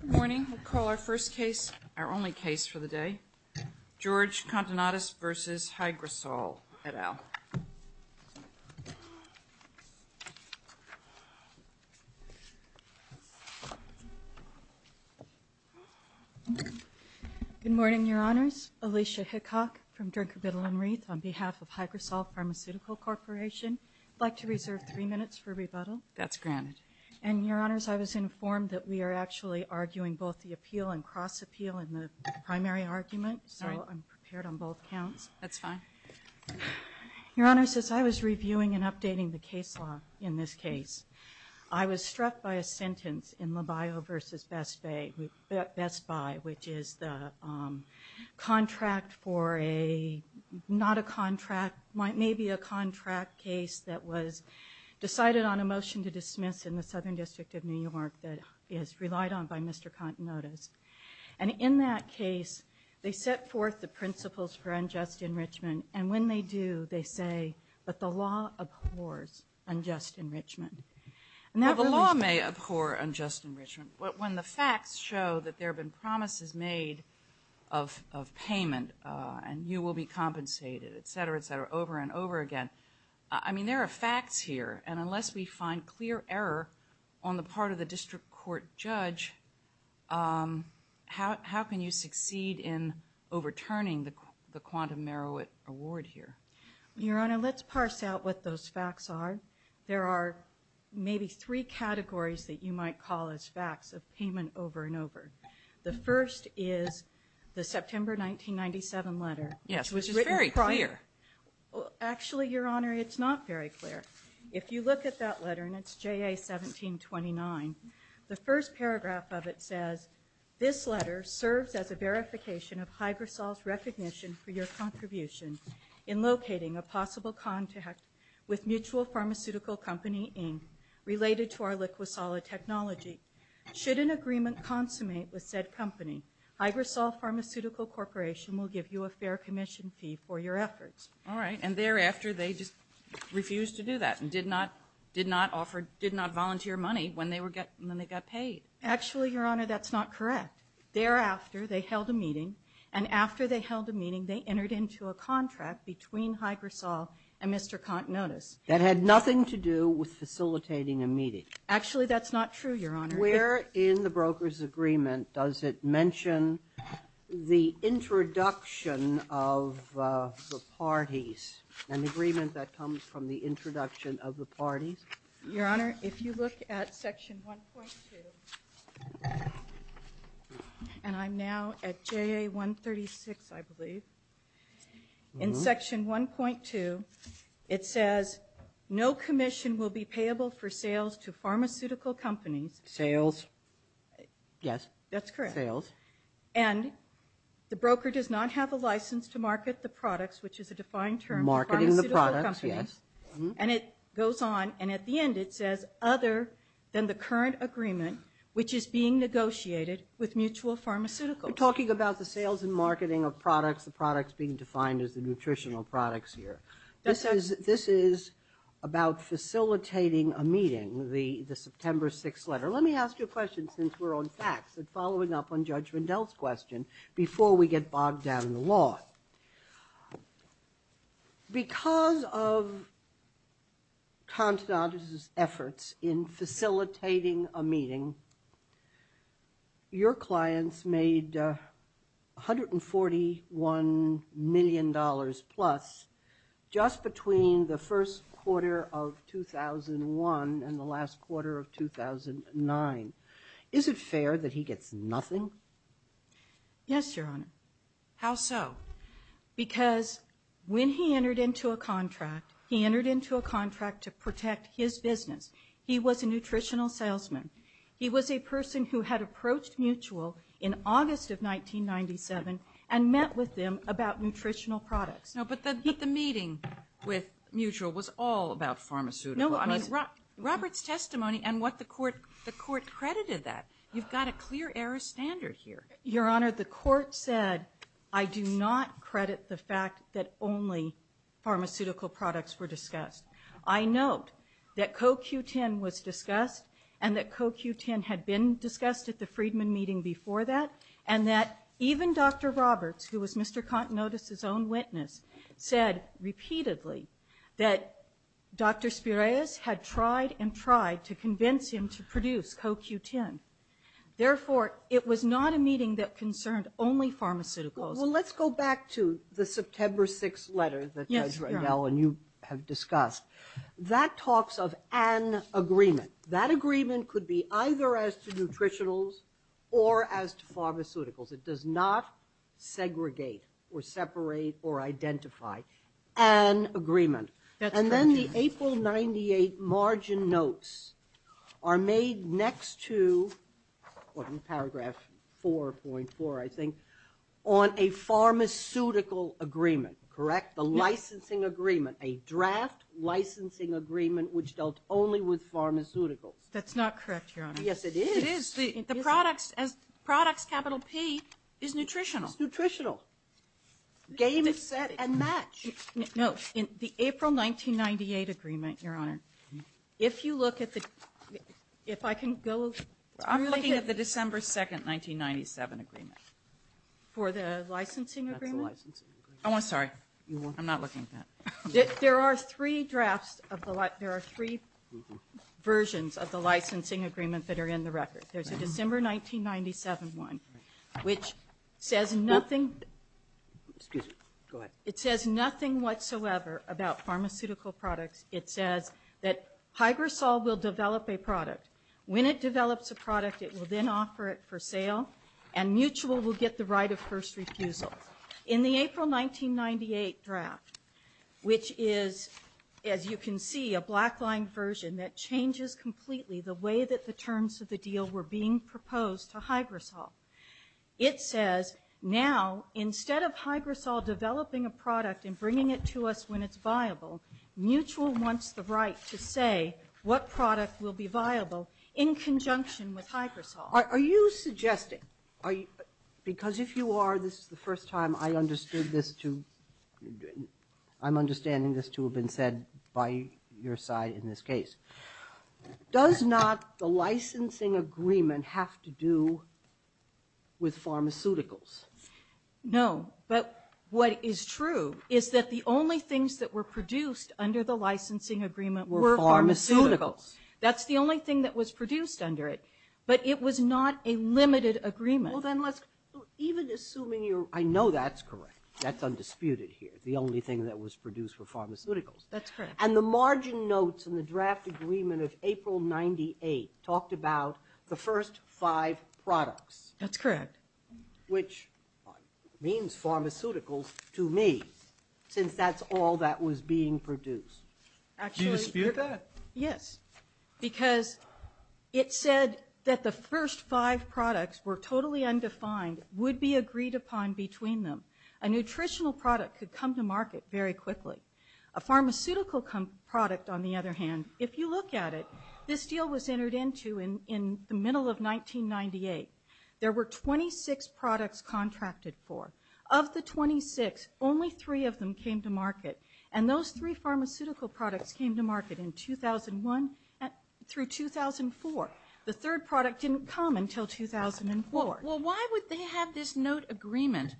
Good morning. We'll call our first case, our only case for the day, George Kontonotas v. Hygrosol et al. Good morning, Your Honors. Alicia Hickock from Drinker, Biddle, and Wreath on behalf of Hygrosol Pharmaceutical Corporation. I'd like to reserve three minutes for rebuttal. That's granted. And Your Honors, I was informed that we are actually arguing both the appeal and cross-appeal in the primary argument, so I'm prepared on both counts. That's fine. Your Honors, as I was reviewing and updating the case law in this case, I was struck by a sentence in LaBaio v. Best Buy, which is the contract for a, not a contract, maybe a contract case that was decided on a motion to dismiss in the Southern by Mr. Kontonotas. And in that case, they set forth the principles for unjust enrichment, and when they do, they say that the law abhors unjust enrichment. Now, the law may abhor unjust enrichment, but when the facts show that there have been promises made of payment, and you will be compensated, etc., etc., over and over again, I mean, there are facts here, and unless we find clear error on the part of the district court judge, how can you succeed in overturning the quantum Merowit award here? Your Honor, let's parse out what those facts are. There are maybe three categories that you might call as facts of payment over and over. The first is the September 1997 letter. Yes, which is very clear. Actually, Your Honor, it's not very clear. If you look at that letter, and it's AIA 1729, the first paragraph of it says, this letter serves as a verification of Hygrosol's recognition for your contribution in locating a possible contact with Mutual Pharmaceutical Company, Inc., related to our Liqui-Solid technology. Should an agreement consummate with said company, Hygrosol Pharmaceutical Corporation will give you a fair commission fee for your efforts. All right, and thereafter, they just refused to do that, and did not, did not offer, did not volunteer money when they were, when they got paid. Actually, Your Honor, that's not correct. Thereafter, they held a meeting, and after they held a meeting, they entered into a contract between Hygrosol and Mr. Contenotus. That had nothing to do with facilitating a meeting. Actually, that's not true, Your Honor. Where in the broker's agreement does it mention the introduction of the parties, an agreement that comes from the introduction of the parties? Your Honor, if you look at Section 1.2, and I'm now at JA 136, I believe. In Section 1.2, it says, no commission will be payable for sales to pharmaceutical companies. Sales? Yes, that's correct. Sales. And the broker does not have a license to market the products, which is a defined term. Marketing the products, yes. And it goes on, and at the end, it says, other than the current agreement, which is being negotiated with mutual pharmaceuticals. We're talking about the sales and marketing of products, the products being defined as the nutritional products here. This is, this is about facilitating a meeting, the, the September 6th letter. Let me ask you a question, since we're on facts, and following up on Judge Mandel's question, before we get bogged down in the law. Because of Contenatus' efforts in facilitating a meeting, your clients made $141 million plus just between the first quarter of 2001 and the last quarter of 2009. Is it fair that he gets nothing? Yes, Your Honor. How so? Because when he entered into a contract, he entered into a contract to protect his business. He was a nutritional salesman. He was a person who had approached Mutual in August of 1997 and met with them about nutritional products. No, but the, the meeting with Mutual was all about pharmaceuticals. I mean, Robert's testimony and what the court, the court credited that. You've got a clear error standard here. Your Honor, the court said, I do not credit the fact that only pharmaceutical products were discussed. I note that CoQ10 was discussed and that CoQ10 had been discussed at the Friedman meeting before that, and that even Dr. Roberts, who was Mr. Contenatus' own witness, said repeatedly that Dr. Spirez had tried and tried to convince him to produce CoQ10. Therefore, it was not a meeting that concerned only pharmaceuticals. Well, let's go back to the September 6th letter that you have discussed. That talks of an agreement. That agreement could be either as to nutritionals or as to pharmaceuticals. It does not segregate or separate or identify an agreement. And then the April 98 margin notes are made next to, in paragraph 4.4, I think, on a pharmaceutical agreement, correct? The licensing agreement, a draft licensing agreement which dealt only with pharmaceuticals. That's not correct, Your Honor. Yes, it is. It is. The products, as products, capital P, is nutritional. It's nutritional. Game is set and match. No. The April 1998 agreement, Your Honor, if you look at the, if I can go. I'm looking at the December 2nd, 1997 agreement. For the licensing agreement? That's the licensing agreement. Oh, I'm sorry. I'm not looking at that. There are three drafts of the, there are three versions of the licensing agreement that are in the record. There's a December 1997 one which says nothing. Excuse me. Go ahead. It says nothing whatsoever about pharmaceutical products. It says that Hygrosol will develop a product. When it develops a product, it will then offer it for sale and Mutual will get the right of first refusal. In the April 1998 draft, which is, as you can see, a black-lined version that changes completely the way that the terms of the deal were being proposed to Hygrosol, it says now instead of Hygrosol developing a product and bringing it to us when it's viable, Mutual wants the right to say what product will be viable in conjunction with Hygrosol. Are you suggesting, because if you are, this is the first time I understood this to, I'm understanding this to have been said by your side in this case. Does not the licensing agreement have to do with pharmaceuticals? No, but what is true is that the only things that were produced under the licensing agreement were pharmaceuticals. That's the only thing that was produced under it, but it was not a limited agreement. Well, then let's, even assuming you're, I know that's correct. That's undisputed here. The only thing that was produced were pharmaceuticals. That's correct. And the margin notes in the draft agreement of April 1998 talked about the first five products. That's correct. Which means pharmaceuticals to me, since that's all that was being produced. Do you dispute that? Yes, because it said that the first five products were totally undefined, would be agreed upon between them. A nutritional product could come to market very quickly. A pharmaceutical product on the other hand, if you look at it, this deal was entered into in the middle of 1998. There were 26 products contracted for. Of the 26, only three of them came to market in 2001 through 2004. The third product didn't come until 2004. Well, why would they have this note agreement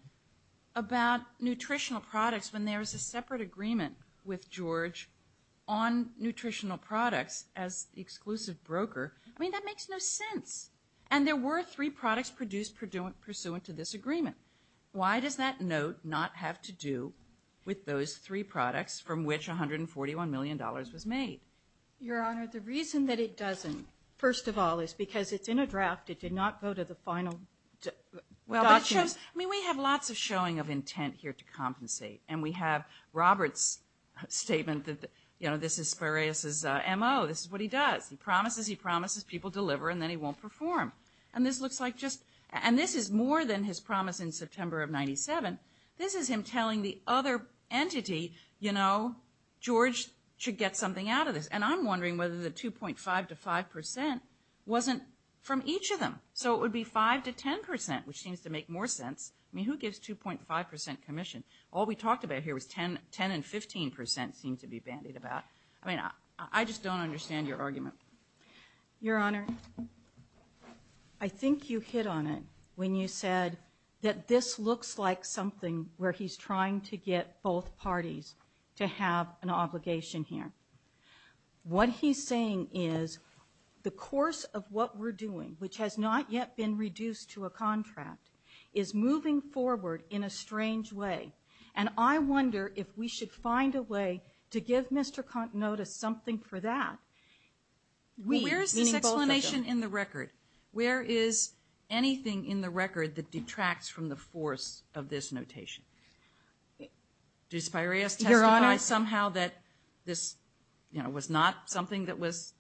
about nutritional products when there was a separate agreement with George on nutritional products as the exclusive broker? I mean, that makes no sense. And there were three products produced pursuant to this agreement. Why does that note not have to do with those three products from which $141 million was made? Your Honor, the reason that it doesn't, first of all, is because it's in a draft. It did not go to the final document. Well, that shows, I mean, we have lots of showing of intent here to compensate. And we have Robert's statement that, you know, this is Spiraeus' M.O. This is what he does. He promises, he promises people deliver and then he won't perform. And this looks like is more than his promise in September of 97. This is him telling the other entity, you know, George should get something out of this. And I'm wondering whether the 2.5 to 5 percent wasn't from each of them. So it would be 5 to 10 percent, which seems to make more sense. I mean, who gives 2.5 percent commission? All we talked about here was 10 and 15 percent seemed to be bandied about. I mean, I just don't understand your argument. Your Honor, I think you hit on it when you said that this looks like something where he's trying to get both parties to have an obligation here. What he's saying is the course of what we're doing, which has not yet been reduced to a contract, is moving forward in a strange way. And I wonder if we should find a way to give Mr. Contenota something for that. Where is this explanation in the record? Where is anything in the record that detracts from the force of this notation? Does Piraeus testify somehow that this, you know, was not something that was,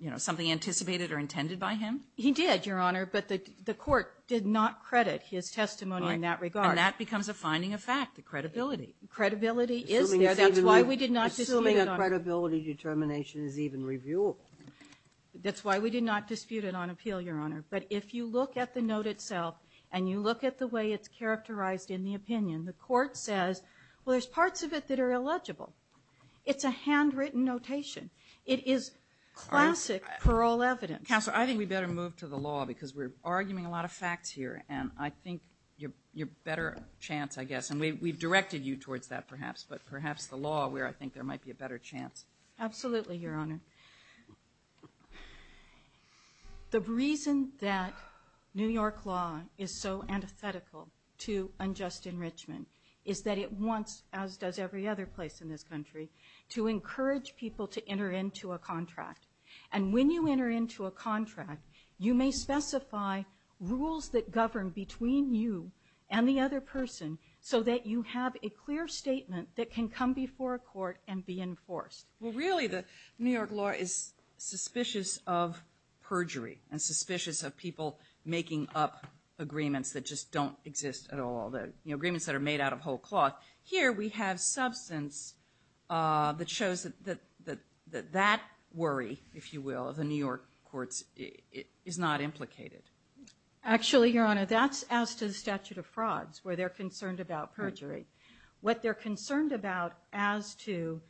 you know, something anticipated or intended by him? He did, Your Honor, but the court did not credit his testimony in that regard. And that becomes a finding of fact, the credibility. Credibility is there. That's why we did not dispute it on appeal, Your Honor. But if you look at the note itself, and you look at the way it's characterized in the opinion, the court says, well, there's parts of it that are illegible. It's a handwritten notation. It is classic parole evidence. Counsel, I think we better move to the law, because we're arguing a lot of facts here, and I think you're better chance, I guess, and we've directed you towards that, perhaps, but perhaps the law where I think there might be a better chance. Absolutely, Your Honor. The reason that New York law is so antithetical to unjust enrichment is that it wants, as does every other place in this country, to encourage people to enter into a contract. And when you enter into a contract, you may specify rules that govern between you and the other person so that you have a clear statement that can come before a court and be enforced. Well, really, the New York law is suspicious of perjury and suspicious of people making up agreements that just don't exist at all, agreements that are made out of whole cloth. Here, we have substance that shows that that worry, if you will, of the New York courts is not implicated. Actually, Your Honor, that's as to the statute of frauds, where they're concerned about perjury. What they're concerned about as to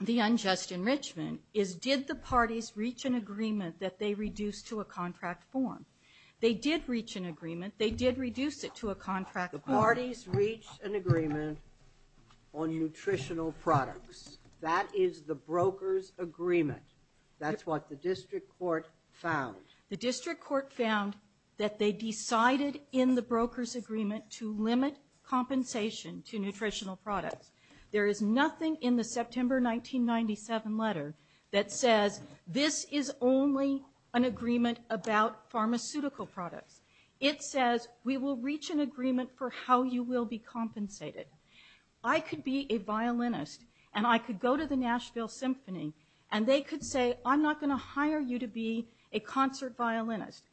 the unjust enrichment is, did the parties reach an agreement that they reduced to a contract form? They did reach an agreement. They did reduce it to a contract form. The parties reached an agreement on nutritional products. That is the broker's agreement. That's what the district court found. The district court found that they decided in the broker's agreement to limit compensation to nutritional products. There is nothing in the September 1997 letter that says, this is only an agreement about pharmaceutical products. It says, we will reach an agreement for how you will be compensated. I could be a violinist, and I could go to the Nashville Symphony, and they could say, I'm not going to hire you to be a concert violinist.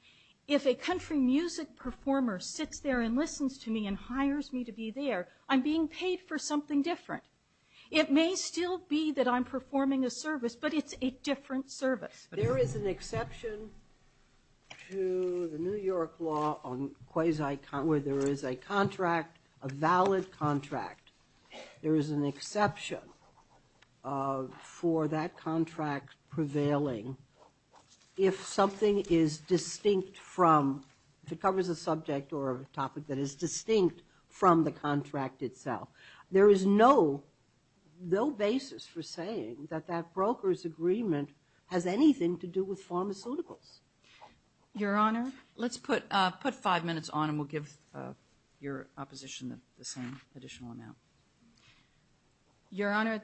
If a country music performer sits there and listens to me and hires me to be there, I'm being paid for something different. It may still be that I'm performing a service, but it's a different service. There is an exception to the New York law on quasi-con, where there is a contract, a valid contract. There is an exception for that contract prevailing if something is distinct from, if it covers a subject or a topic that is distinct from the contract itself. There is no basis for saying that that broker's agreement has anything to do with pharmaceuticals. Your Honor, let's put five minutes on, and we'll give your opposition the same additional amount. Your Honor,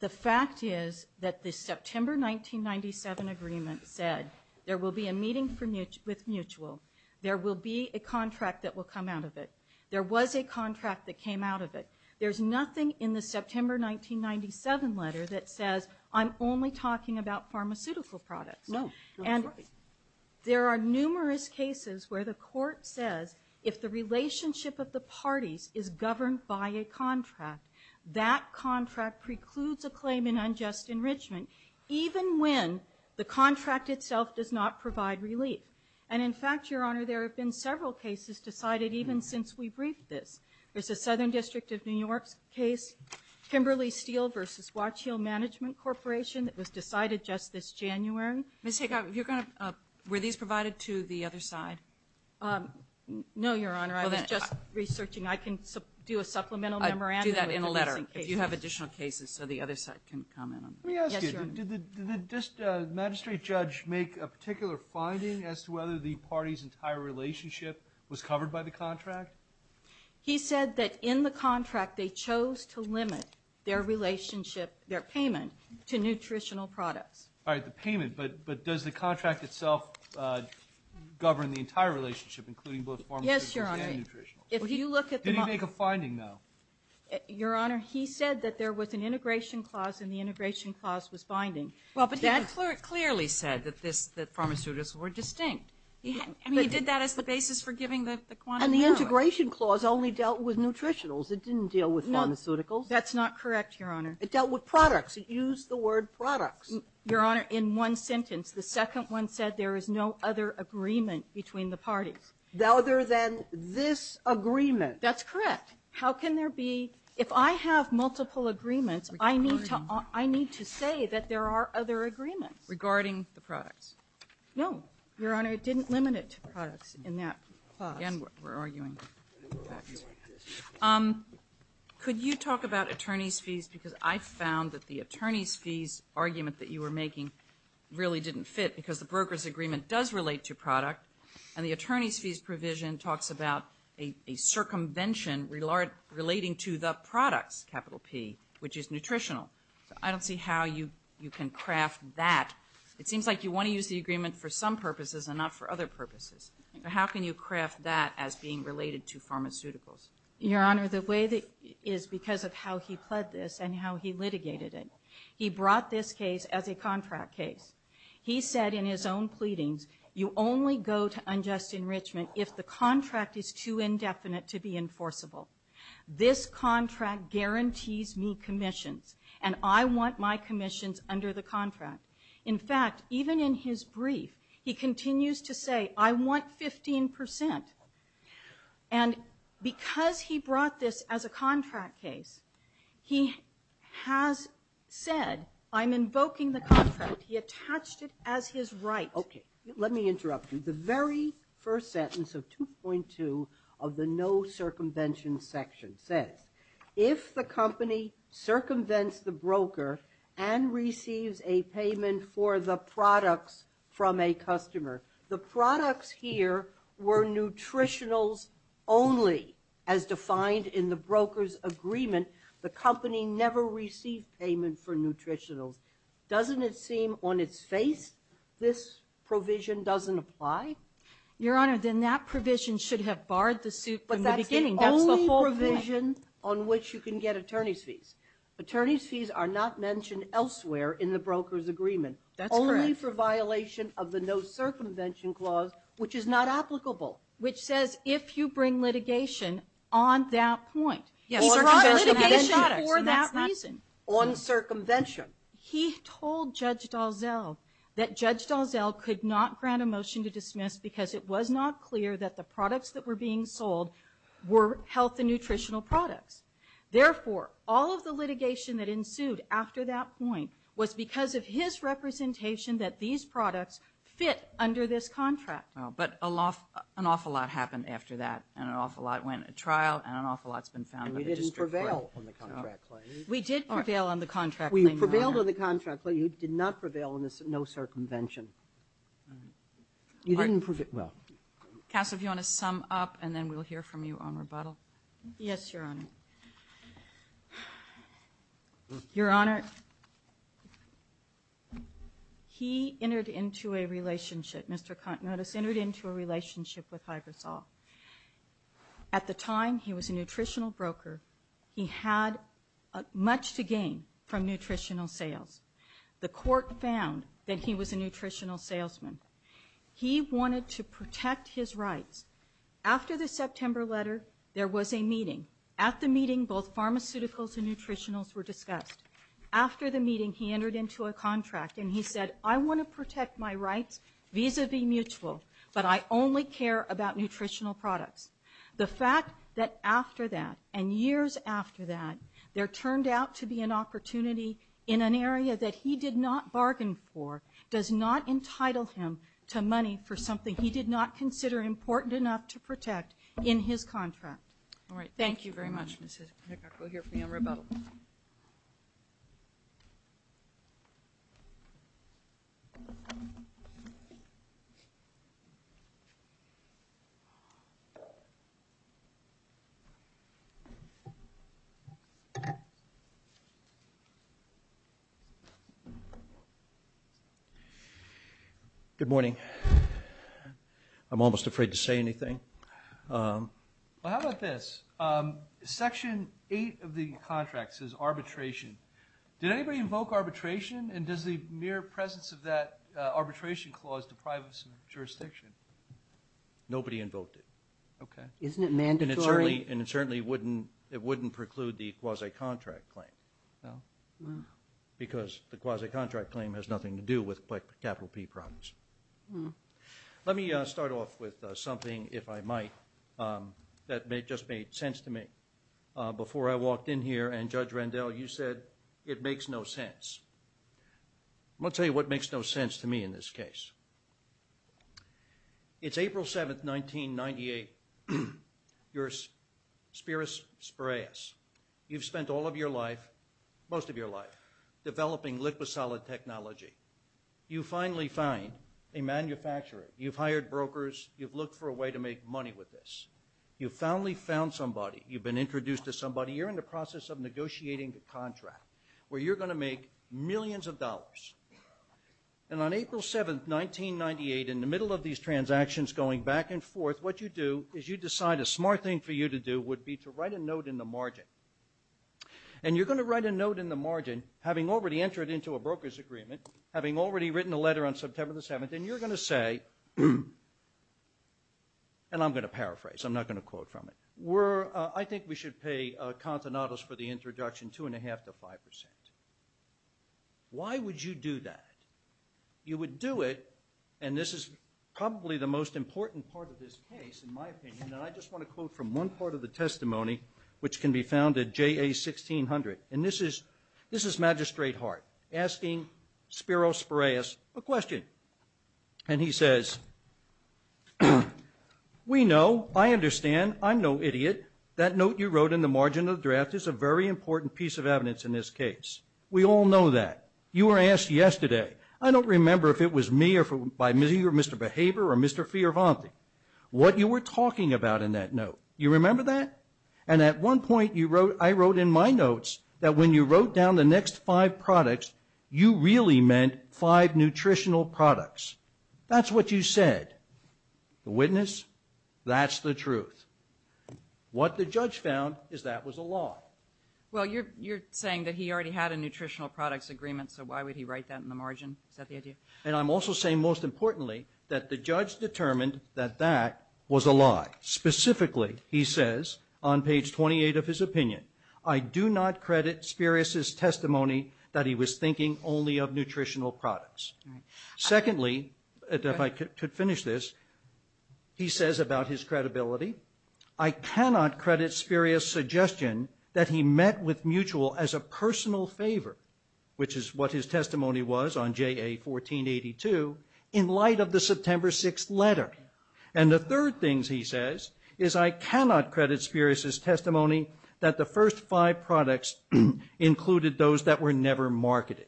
the fact is that the September 1997 agreement said, there will be a meeting with Mutual. There will be a contract that will come out of it. There was a contract that came out of it. There's nothing in the September 1997 letter that says, I'm only talking about pharmaceutical products. No, that's right. There are numerous cases where the court says, if the relationship of the parties is governed by a contract, that contract precludes a claim in unjust enrichment, even when the contract itself does not provide relief. And, in fact, Your Honor, there have been several cases decided even since we briefed this. There's a Southern District of New York case, Kimberly Steele v. Watch Hill Management Corporation, that was decided just this January. Ms. Higgins, were these provided to the other side? No, Your Honor. I was just researching. I can do a supplemental memorandum. Do that in a letter, if you have additional cases, so the other side can comment on that. Let me ask you, did the magistrate judge make a particular finding as to whether the party's entire relationship was covered by the contract? He said that in the contract, they chose to limit their relationship, their payment, to nutritional products. All right, the payment, but does the contract itself govern the entire relationship, including both pharmaceuticals and nutritionals? Yes, Your Honor. Did he make a finding, though? Your Honor, he said that there was an integration clause, and the integration clause was binding. Well, but he clearly said that this, that pharmaceuticals were distinct. He did that as the basis for giving the quantum memorandum. And the integration clause only dealt with nutritionals. It didn't deal with pharmaceuticals. That's not correct, Your Honor. It dealt with products. It used the word products. Your Honor, in one sentence, the second one said there is no other agreement between the parties. Other than this agreement. That's correct. How can there be, if I have multiple agreements, I need to say that there are other agreements. Regarding the products. No, Your Honor, it didn't limit it to products in that clause. Again, we're arguing facts. Could you talk about attorney's fees, because I found that the attorney's fees argument that you were making really didn't fit, because the broker's agreement does relate to product, and the attorney's fees provision talks about a circumvention relating to the products, capital P, which is nutritional. I don't see how you can craft that. It seems like you want to use the agreement for some purposes and not for other purposes. How can you craft that as being related to pharmaceuticals? Your Honor, the way that, is because of how he pled this and how he litigated it. He brought this case as a contract case. He said in his own pleadings, you only go to unjust enrichment if the contract is too indefinite to be enforceable. This contract guarantees me commissions, and I want my commissions under the contract. In fact, even in his brief, he continues to say, I want 15%. And because he brought this as a contract case, he has said, I'm invoking the contract. He attached it as his right. Okay, let me interrupt you. The very first sentence of 2.2 of the no circumvention section says, if the company circumvents the broker and receives a payment for the products from a customer, the products here were nutritionals only as defined in the broker's agreement. The company never received payment for nutritionals. Doesn't it seem on its face this provision doesn't apply? Your Honor, then that provision should have barred the suit from the beginning. But that's the only provision on which you can get attorney's fees. Attorney's fees are not mentioned elsewhere in the broker's agreement. That's correct. Only for violation of the no circumvention clause, which is not applicable. Which says, if you bring litigation on that point. Yes, circumvention has to be shot at for that reason. On circumvention. He told Judge Dalzell that Judge Dalzell could not grant a motion to dismiss because it was not clear that the products that were being sold were health and nutritional products. Therefore, all of the litigation that ensued after that point was because of his representation that these products fit under this contract. Well, but an awful lot happened after that, and an awful lot went to trial, and an awful lot's been found in the district court. And we didn't prevail on the contract claim. We did prevail on the contract claim. We prevailed on the contract, but you did not prevail on the no circumvention. You didn't prevail. Counsel, if you want to sum up, and then we'll hear from you on rebuttal. Yes, Your Honor. Your Honor, he entered into a relationship, Mr. Contenotus entered into a relationship with Hyversol. At the time, he was a nutritional broker. He had much to gain from nutritional sales. The court found that he was a nutritional salesman. He wanted to protect his rights. After the September letter, there was a meeting. At the meeting, both pharmaceuticals and nutritionals were discussed. After the meeting, he entered into a contract, and he said, I want to protect my rights vis-a-vis mutual, but I only care about nutritional products. The fact that after that, and years after that, there turned out to be an opportunity in an area that he did not bargain for, does not entitle him to money for something he did not consider important enough to protect in his contract. All right, thank you very much, Ms. Hickock. We'll hear from you on rebuttal. Good morning. I'm almost afraid to say anything. Well, how about this? Section 8 of the contract says arbitration. Did anybody invoke arbitration, and does the mere presence of that arbitration clause deprive us of jurisdiction? Nobody invoked it. Isn't it mandatory? And it certainly wouldn't preclude the quasi-contract claim, because the quasi-contract claim has nothing to do with capital P problems. Let me start off with something, if I might, that just made sense to me before I walked in here. And, Judge Randell, you said it makes no sense. I'm going to tell you what makes no sense to me in this case. It's April 7th, 1998, you're Spiris Spireus. You've spent all of your life, most of your life, developing liquid solid technology. You finally find a manufacturer. You've hired brokers. You've looked for a way to make money with this. You've finally found somebody. You've been introduced to somebody. You're in the process of negotiating a contract where you're going to make millions of dollars. And on April 7th, 1998, in the middle of these transactions going back and forth, what you do is you decide a smart thing for you to do would be to write a note in the margin. And you're going to write a note in the margin, having already entered into a broker's agreement, having already written a letter on September the 7th, and you're going to say, and I'm going to paraphrase, I'm not going to quote from it, I think we should pay Contenados for the introduction two and a half to five percent. Why would you do that? You would do it, and this is probably the most important part of this case, in my opinion, and I just want to quote from one part of the testimony, which can be found at JA 1600. And this is Magistrate Hart asking Spiros Spireus a question. And he says, we know, I understand, I'm no idiot, that note you wrote in the margin of the draft is a very important piece of evidence in this case. We all know that. You were asked yesterday, I don't remember if it was me or Mr. Behaver or Mr. Fioravanti, what you were talking about in that note. You remember that? And at one point I wrote in my notes that when you wrote down the next five products, you really meant five nutritional products. That's what you said. The witness, that's the truth. What the judge found is that was a lie. Well, you're saying that he already had a nutritional products agreement, so why would he write that in the margin? Is that the idea? And I'm also saying, most importantly, that the judge determined that that was a lie. Specifically, he says on page 28 of his opinion, I do not credit Spiros' testimony that he was thinking only of nutritional products. Secondly, if I could finish this, he says about his credibility, I cannot credit Spiros' suggestion that he met with Mutual as a personal favor, which is what his testimony was on JA 1482, in light of the September 6th letter. And the third thing he says is I cannot credit Spiros' testimony that the first five products included those that were never marketed.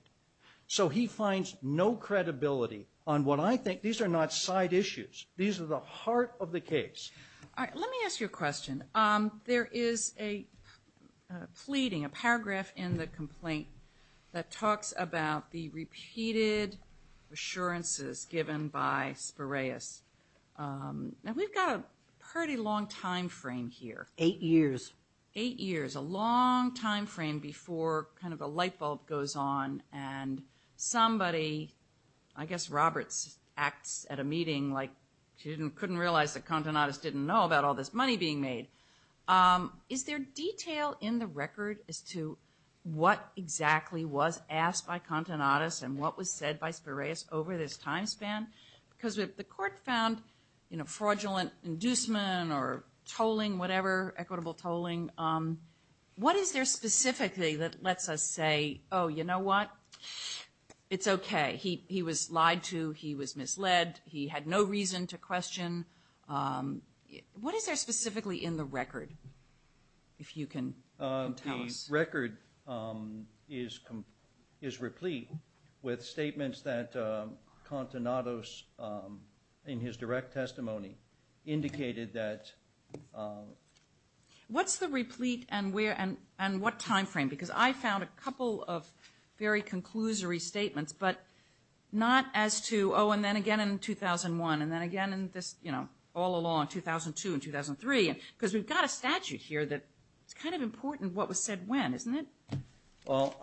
So he finds no credibility on what I think, these are not side issues. These are the heart of the case. All right, let me ask you a question. There is a pleading, a paragraph in the complaint that talks about the repeated assurances given by Spiros. Now, we've got a pretty long time frame here. Eight years. Eight years, a long time frame before kind of a light bulb goes on and somebody, I guess Roberts, acts at a meeting like she couldn't realize that Contenatus didn't know about all this money being made. Is there detail in the record as to what exactly was asked by Contenatus and what was said by Spiros over this time span? Because the court found, you know, fraudulent inducement or tolling, whatever, equitable tolling. What is there specifically that lets us say, oh, you know what? It's okay. He was lied to. He was misled. He had no reason to question. What is there specifically in the record, if you can tell us? This record is replete with statements that Contenatus, in his direct testimony, indicated that. What's the replete and what time frame? Because I found a couple of very conclusory statements, but not as to, oh, and then again in 2001, and then again in this, you know, all along, 2002 and 2003. Because we've got a statute here that it's kind of important what was said when, isn't it? Well,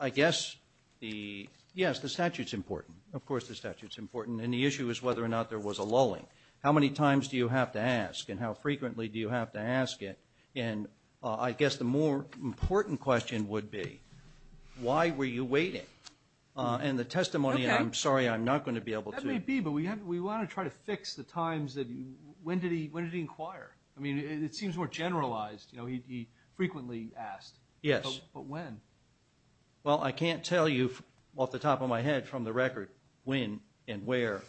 I guess the, yes, the statute's important. Of course the statute's important. And the issue is whether or not there was a lulling. How many times do you have to ask and how frequently do you have to ask it? And I guess the more important question would be, why were you waiting? And the testimony, and I'm sorry, I'm not going to be able to. It may be, but we want to try to fix the times that, when did he inquire? I mean, it seems more generalized. You know, he frequently asked. Yes. But when? Well, I can't tell you off the top of my head from the record when and where.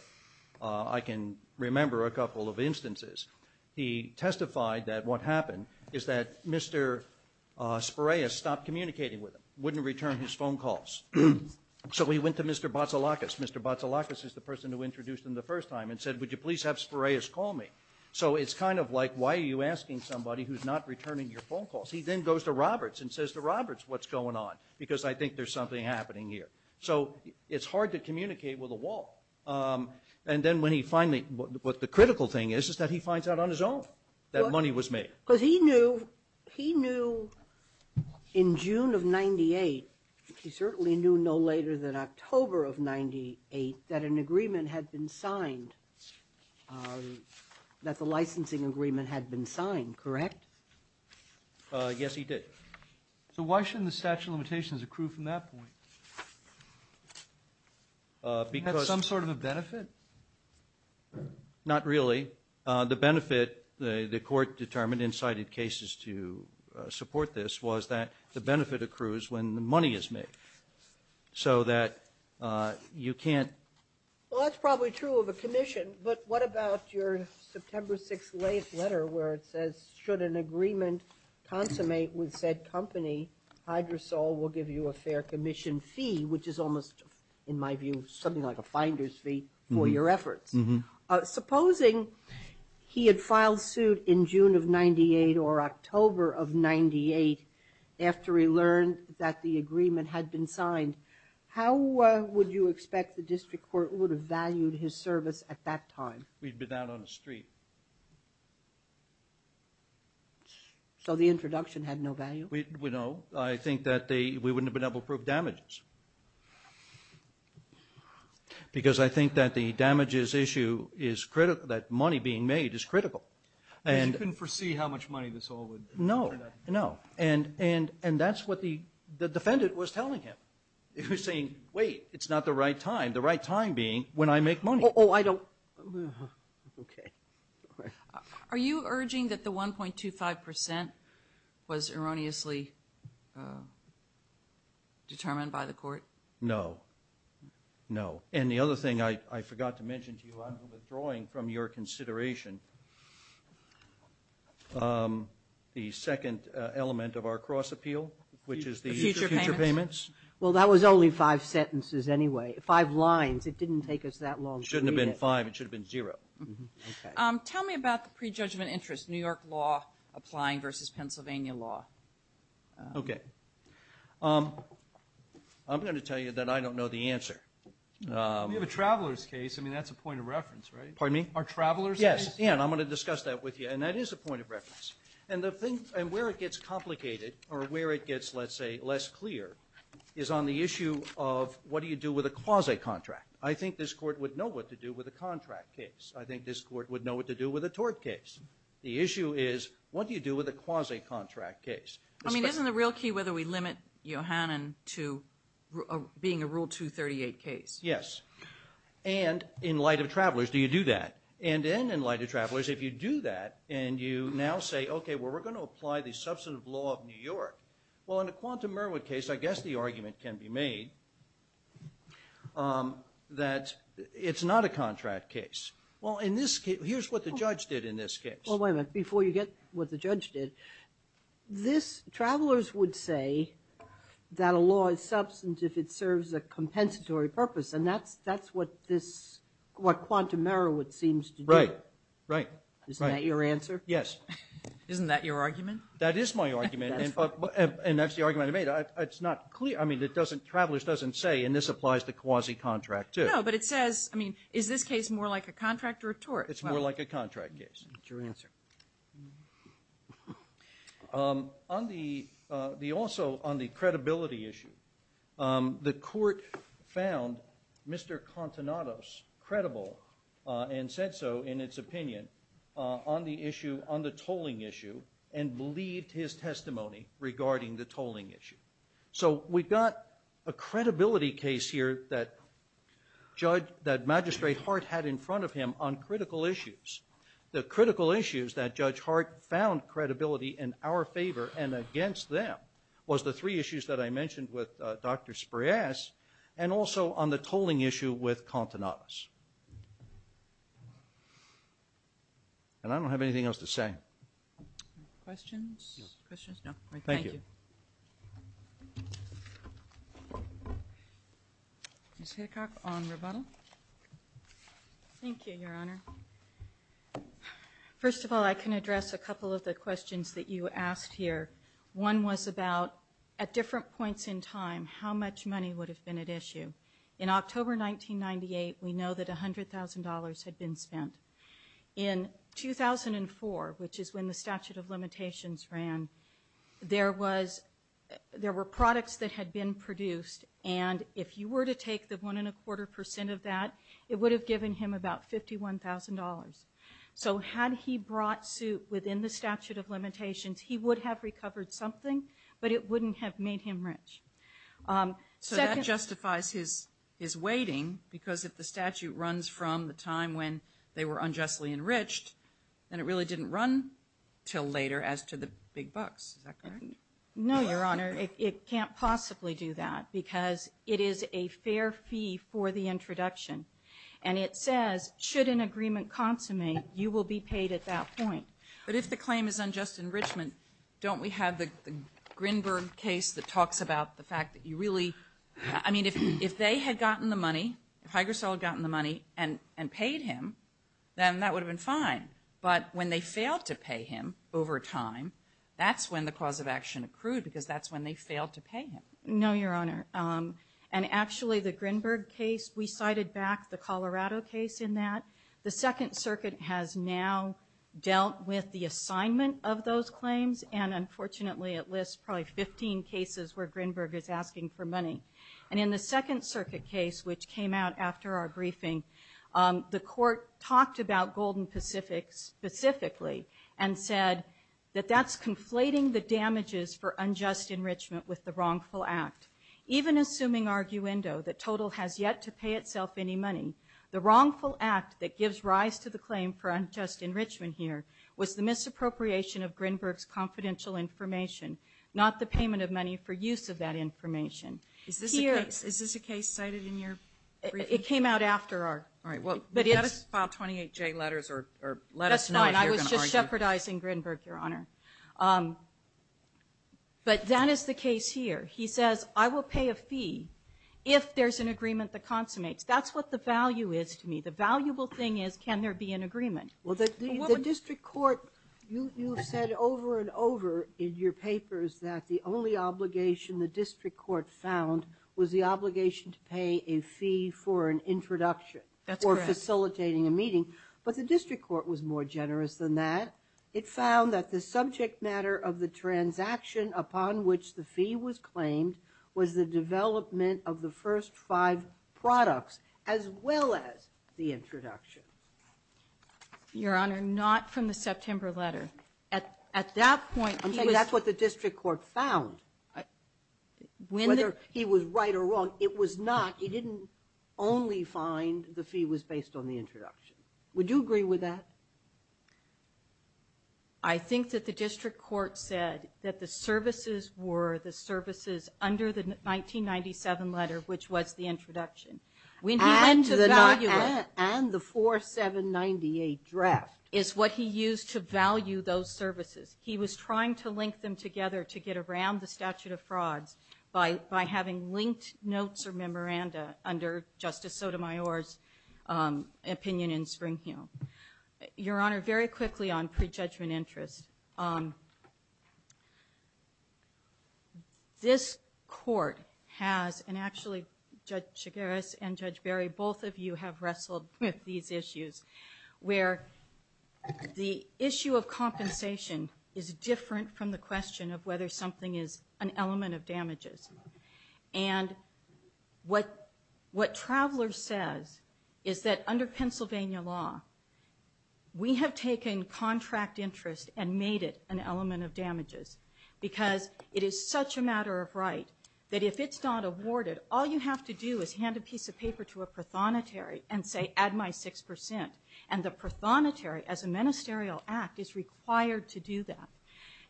I can remember a couple of instances. He testified that what happened is that Mr. Spiraeus stopped communicating with him, wouldn't return his phone calls. So he went to Mr. Batsalakis. Mr. Batsalakis is the person who introduced him the first time and said, would you please have Spiraeus call me? So it's kind of like, why are you asking somebody who's not returning your phone calls? He then goes to Roberts and says to Roberts, what's going on? Because I think there's something happening here. So it's hard to communicate with a wall. And then when he finally, what the critical thing is, is that he finds out on his own that money was made. Because he knew in June of 98, he certainly knew no later than October of 98, that an agreement had been signed, that the licensing agreement had been signed, correct? Yes, he did. So why shouldn't the statute of limitations accrue from that point? Because of some sort of a benefit? Not really. The benefit, the court determined in cited cases to support this, was that the benefit accrues when the money is made. So that you can't. Well, that's probably true of a commission. But what about your September 6th latest letter where it says, should an agreement consummate with said company, Hydrosol will give you a fair commission fee, which is almost, in my view, something like a finder's fee for your efforts. Mm-hmm. Supposing he had filed suit in June of 98 or October of 98, after he learned that the agreement had been signed, how would you expect the district court would have valued his service at that time? We'd be down on the street. So the introduction had no value? No. I think that we wouldn't have been able to prove damages. Because I think that the damages issue is critical, that money being made is critical. Because you couldn't foresee how much money this all would turn up. No, no. And that's what the defendant was telling him. He was saying, wait, it's not the right time. The right time being when I make money. Oh, I don't. Okay. Are you urging that the 1.25% was erroneously determined by the court? No. No. And the other thing I forgot to mention to you, I'm withdrawing from your consideration the second element of our cross appeal, which is the future payments. Well, that was only five sentences anyway, five lines. It didn't take us that long to read it. It shouldn't have been five. It should have been zero. Okay. Tell me about the prejudgment interest, New York law applying versus Pennsylvania law. Okay. I'm going to tell you that I don't know the answer. We have a traveler's case. I mean, that's a point of reference, right? Pardon me? Our traveler's case? Yes. Ann, I'm going to discuss that with you. And that is a point of reference. And where it gets complicated or where it gets, let's say, less clear, is on the issue of what do you do with a quasi-contract. I think this court would know what to do with a contract case. I think this court would know what to do with a tort case. The issue is what do you do with a quasi-contract case. I mean, isn't the real key whether we limit Yohannan to being a Rule 238 case? Yes. And in light of travelers, do you do that? And then in light of travelers, if you do that and you now say, okay, well, we're going to apply the substantive law of New York, well, in a quantum Merowith case, I guess the argument can be made that it's not a contract case. Well, in this case, here's what the judge did in this case. Well, wait a minute. Before you get what the judge did, travelers would say that a law is substantive if it serves a compensatory purpose, and that's what quantum Merowith seems to do. Right, right. Isn't that your answer? Yes. Isn't that your argument? That is my argument. And that's the argument I made. It's not clear. I mean, travelers doesn't say, and this applies to quasi-contract too. No, but it says, I mean, is this case more like a contract or a tort? It's more like a contract case. That's your answer. Also, on the credibility issue, the court found Mr. Contenados credible and said so in its opinion on the issue, on the tolling issue, and believed his testimony regarding the tolling issue. So we've got a credibility case here that Magistrate Hart had in front of him on critical issues. The critical issues that Judge Hart found credibility in our favor and against them was the three issues that I mentioned with Dr. Sprayas, and also on the tolling issue with Contenados. And I don't have anything else to say. Questions? Questions? No. Thank you. Thank you. Ms. Hitchcock on rebuttal. Thank you, Your Honor. First of all, I can address a couple of the questions that you asked here. One was about, at different points in time, how much money would have been at issue. In October 1998, we know that $100,000 had been spent. In 2004, which is when the statute of limitations ran, there were products that had been produced, and if you were to take the one and a quarter percent of that, it would have given him about $51,000. So had he brought suit within the statute of limitations, he would have recovered something, but it wouldn't have made him rich. So that justifies his waiting, because if the statute runs from the time when they were unjustly enriched, then it really didn't run until later as to the big bucks. Is that correct? No, Your Honor. It can't possibly do that, because it is a fair fee for the introduction. And it says, should an agreement consummate, you will be paid at that point. But if the claim is unjust enrichment, don't we have the Grinberg case that talks about the fact that you really – I mean, if they had gotten the money, if Hygrosol had gotten the money and paid him, then that would have been fine. But when they failed to pay him over time, that's when the cause of action accrued, because that's when they failed to pay him. No, Your Honor. And actually, the Grinberg case, we cited back the Colorado case in that. The Second Circuit has now dealt with the assignment of those claims, and unfortunately it lists probably 15 cases where Grinberg is asking for money. And in the Second Circuit case, which came out after our briefing, the court talked about Golden Pacific specifically and said that that's conflating the damages for unjust enrichment with the wrongful act. Even assuming arguendo, the total has yet to pay itself any money, the wrongful act that gives rise to the claim for unjust enrichment here was the misappropriation of Grinberg's confidential information, not the payment of money for use of that information. Is this a case cited in your briefing? It came out after our – All right. Well, let us file 28J letters or let us know if you're going to argue. That's fine. I was just shepherdizing Grinberg, Your Honor. But that is the case here. He says, I will pay a fee if there's an agreement that consummates. That's what the value is to me. The valuable thing is can there be an agreement. Well, the district court, you've said over and over in your papers that the only obligation the district court found was the obligation to pay a fee for an introduction. That's correct. Or facilitating a meeting. But the district court was more generous than that. It found that the subject matter of the transaction upon which the fee was claimed was the development of the first five products as well as the introduction. Your Honor, not from the September letter. At that point, that's what the district court found. Whether he was right or wrong, it was not. He didn't only find the fee was based on the introduction. Would you agree with that? I think that the district court said that the services were the services under the 1997 letter, which was the introduction. And the 4798 draft. Is what he used to value those services. He was trying to link them together to get around the statute of frauds by having linked notes or memoranda under Justice Sotomayor's opinion in Springhill. Your Honor, very quickly on prejudgment interest. This court has, and actually Judge Chigueras and Judge Barry, both of you have wrestled with these issues. Where the issue of compensation is different from the question of whether something is an element of damages. And what Travelers says is that under Pennsylvania law, we have taken contract interest and made it an element of damages. Because it is such a matter of right that if it's not awarded, all you have to do is hand a piece of paper to a prothonotary and say, add my 6%. And the prothonotary, as a ministerial act, is required to do that.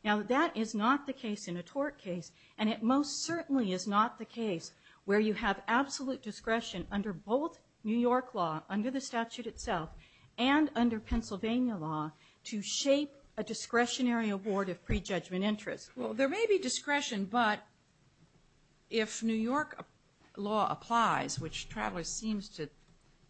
Now that is not the case in a tort case. And it most certainly is not the case where you have absolute discretion under both New York law, under the statute itself, and under Pennsylvania law to shape a discretionary award of prejudgment interest. Well, there may be discretion, but if New York law applies, which Travelers seems to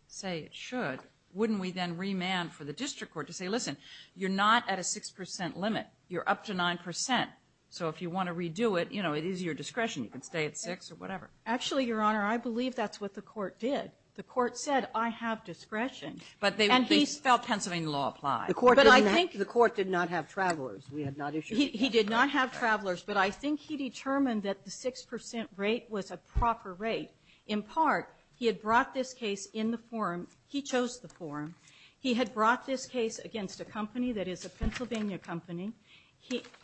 say it should, wouldn't we then remand for the district court to say, listen, you're not at a 6% limit. You're up to 9%. So if you want to redo it, you know, it is your discretion. You can stay at 6% or whatever. Actually, Your Honor, I believe that's what the court did. The court said, I have discretion. And he felt Pennsylvania law applied. But I think the court did not have Travelers. He did not have Travelers. But I think he determined that the 6% rate was a proper rate. In part, he had brought this case in the forum. He chose the forum. He had brought this case against a company that is a Pennsylvania company.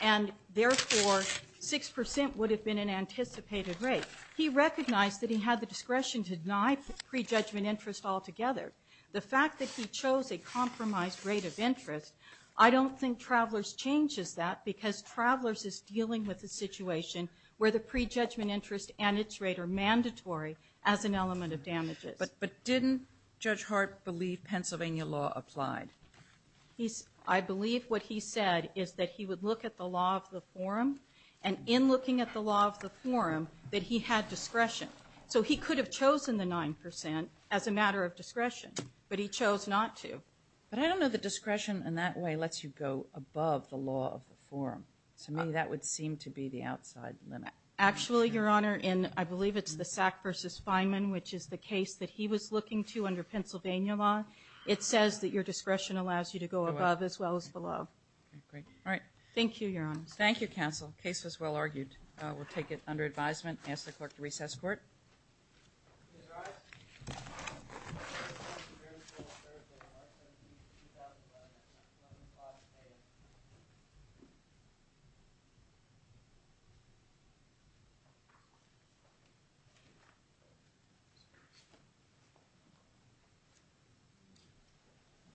And therefore, 6% would have been an anticipated rate. He recognized that he had the discretion to deny prejudgment interest altogether. The fact that he chose a compromised rate of interest, I don't think Travelers changes that because Travelers is dealing with a situation where the prejudgment interest and its rate are mandatory as an element of damages. But didn't Judge Hart believe Pennsylvania law applied? I believe what he said is that he would look at the law of the forum. And in looking at the law of the forum, that he had discretion. So he could have chosen the 9% as a matter of discretion. But he chose not to. But I don't know that discretion in that way lets you go above the law of the forum. To me, that would seem to be the outside limit. Actually, Your Honor, I believe it's the Sack v. Fineman, which is the case that he was looking to under Pennsylvania law. It says that your discretion allows you to go above as well as below. All right. Thank you, Your Honor. Thank you, counsel. The case was well argued. We'll take it under advisement and ask the clerk to recess court. Please rise.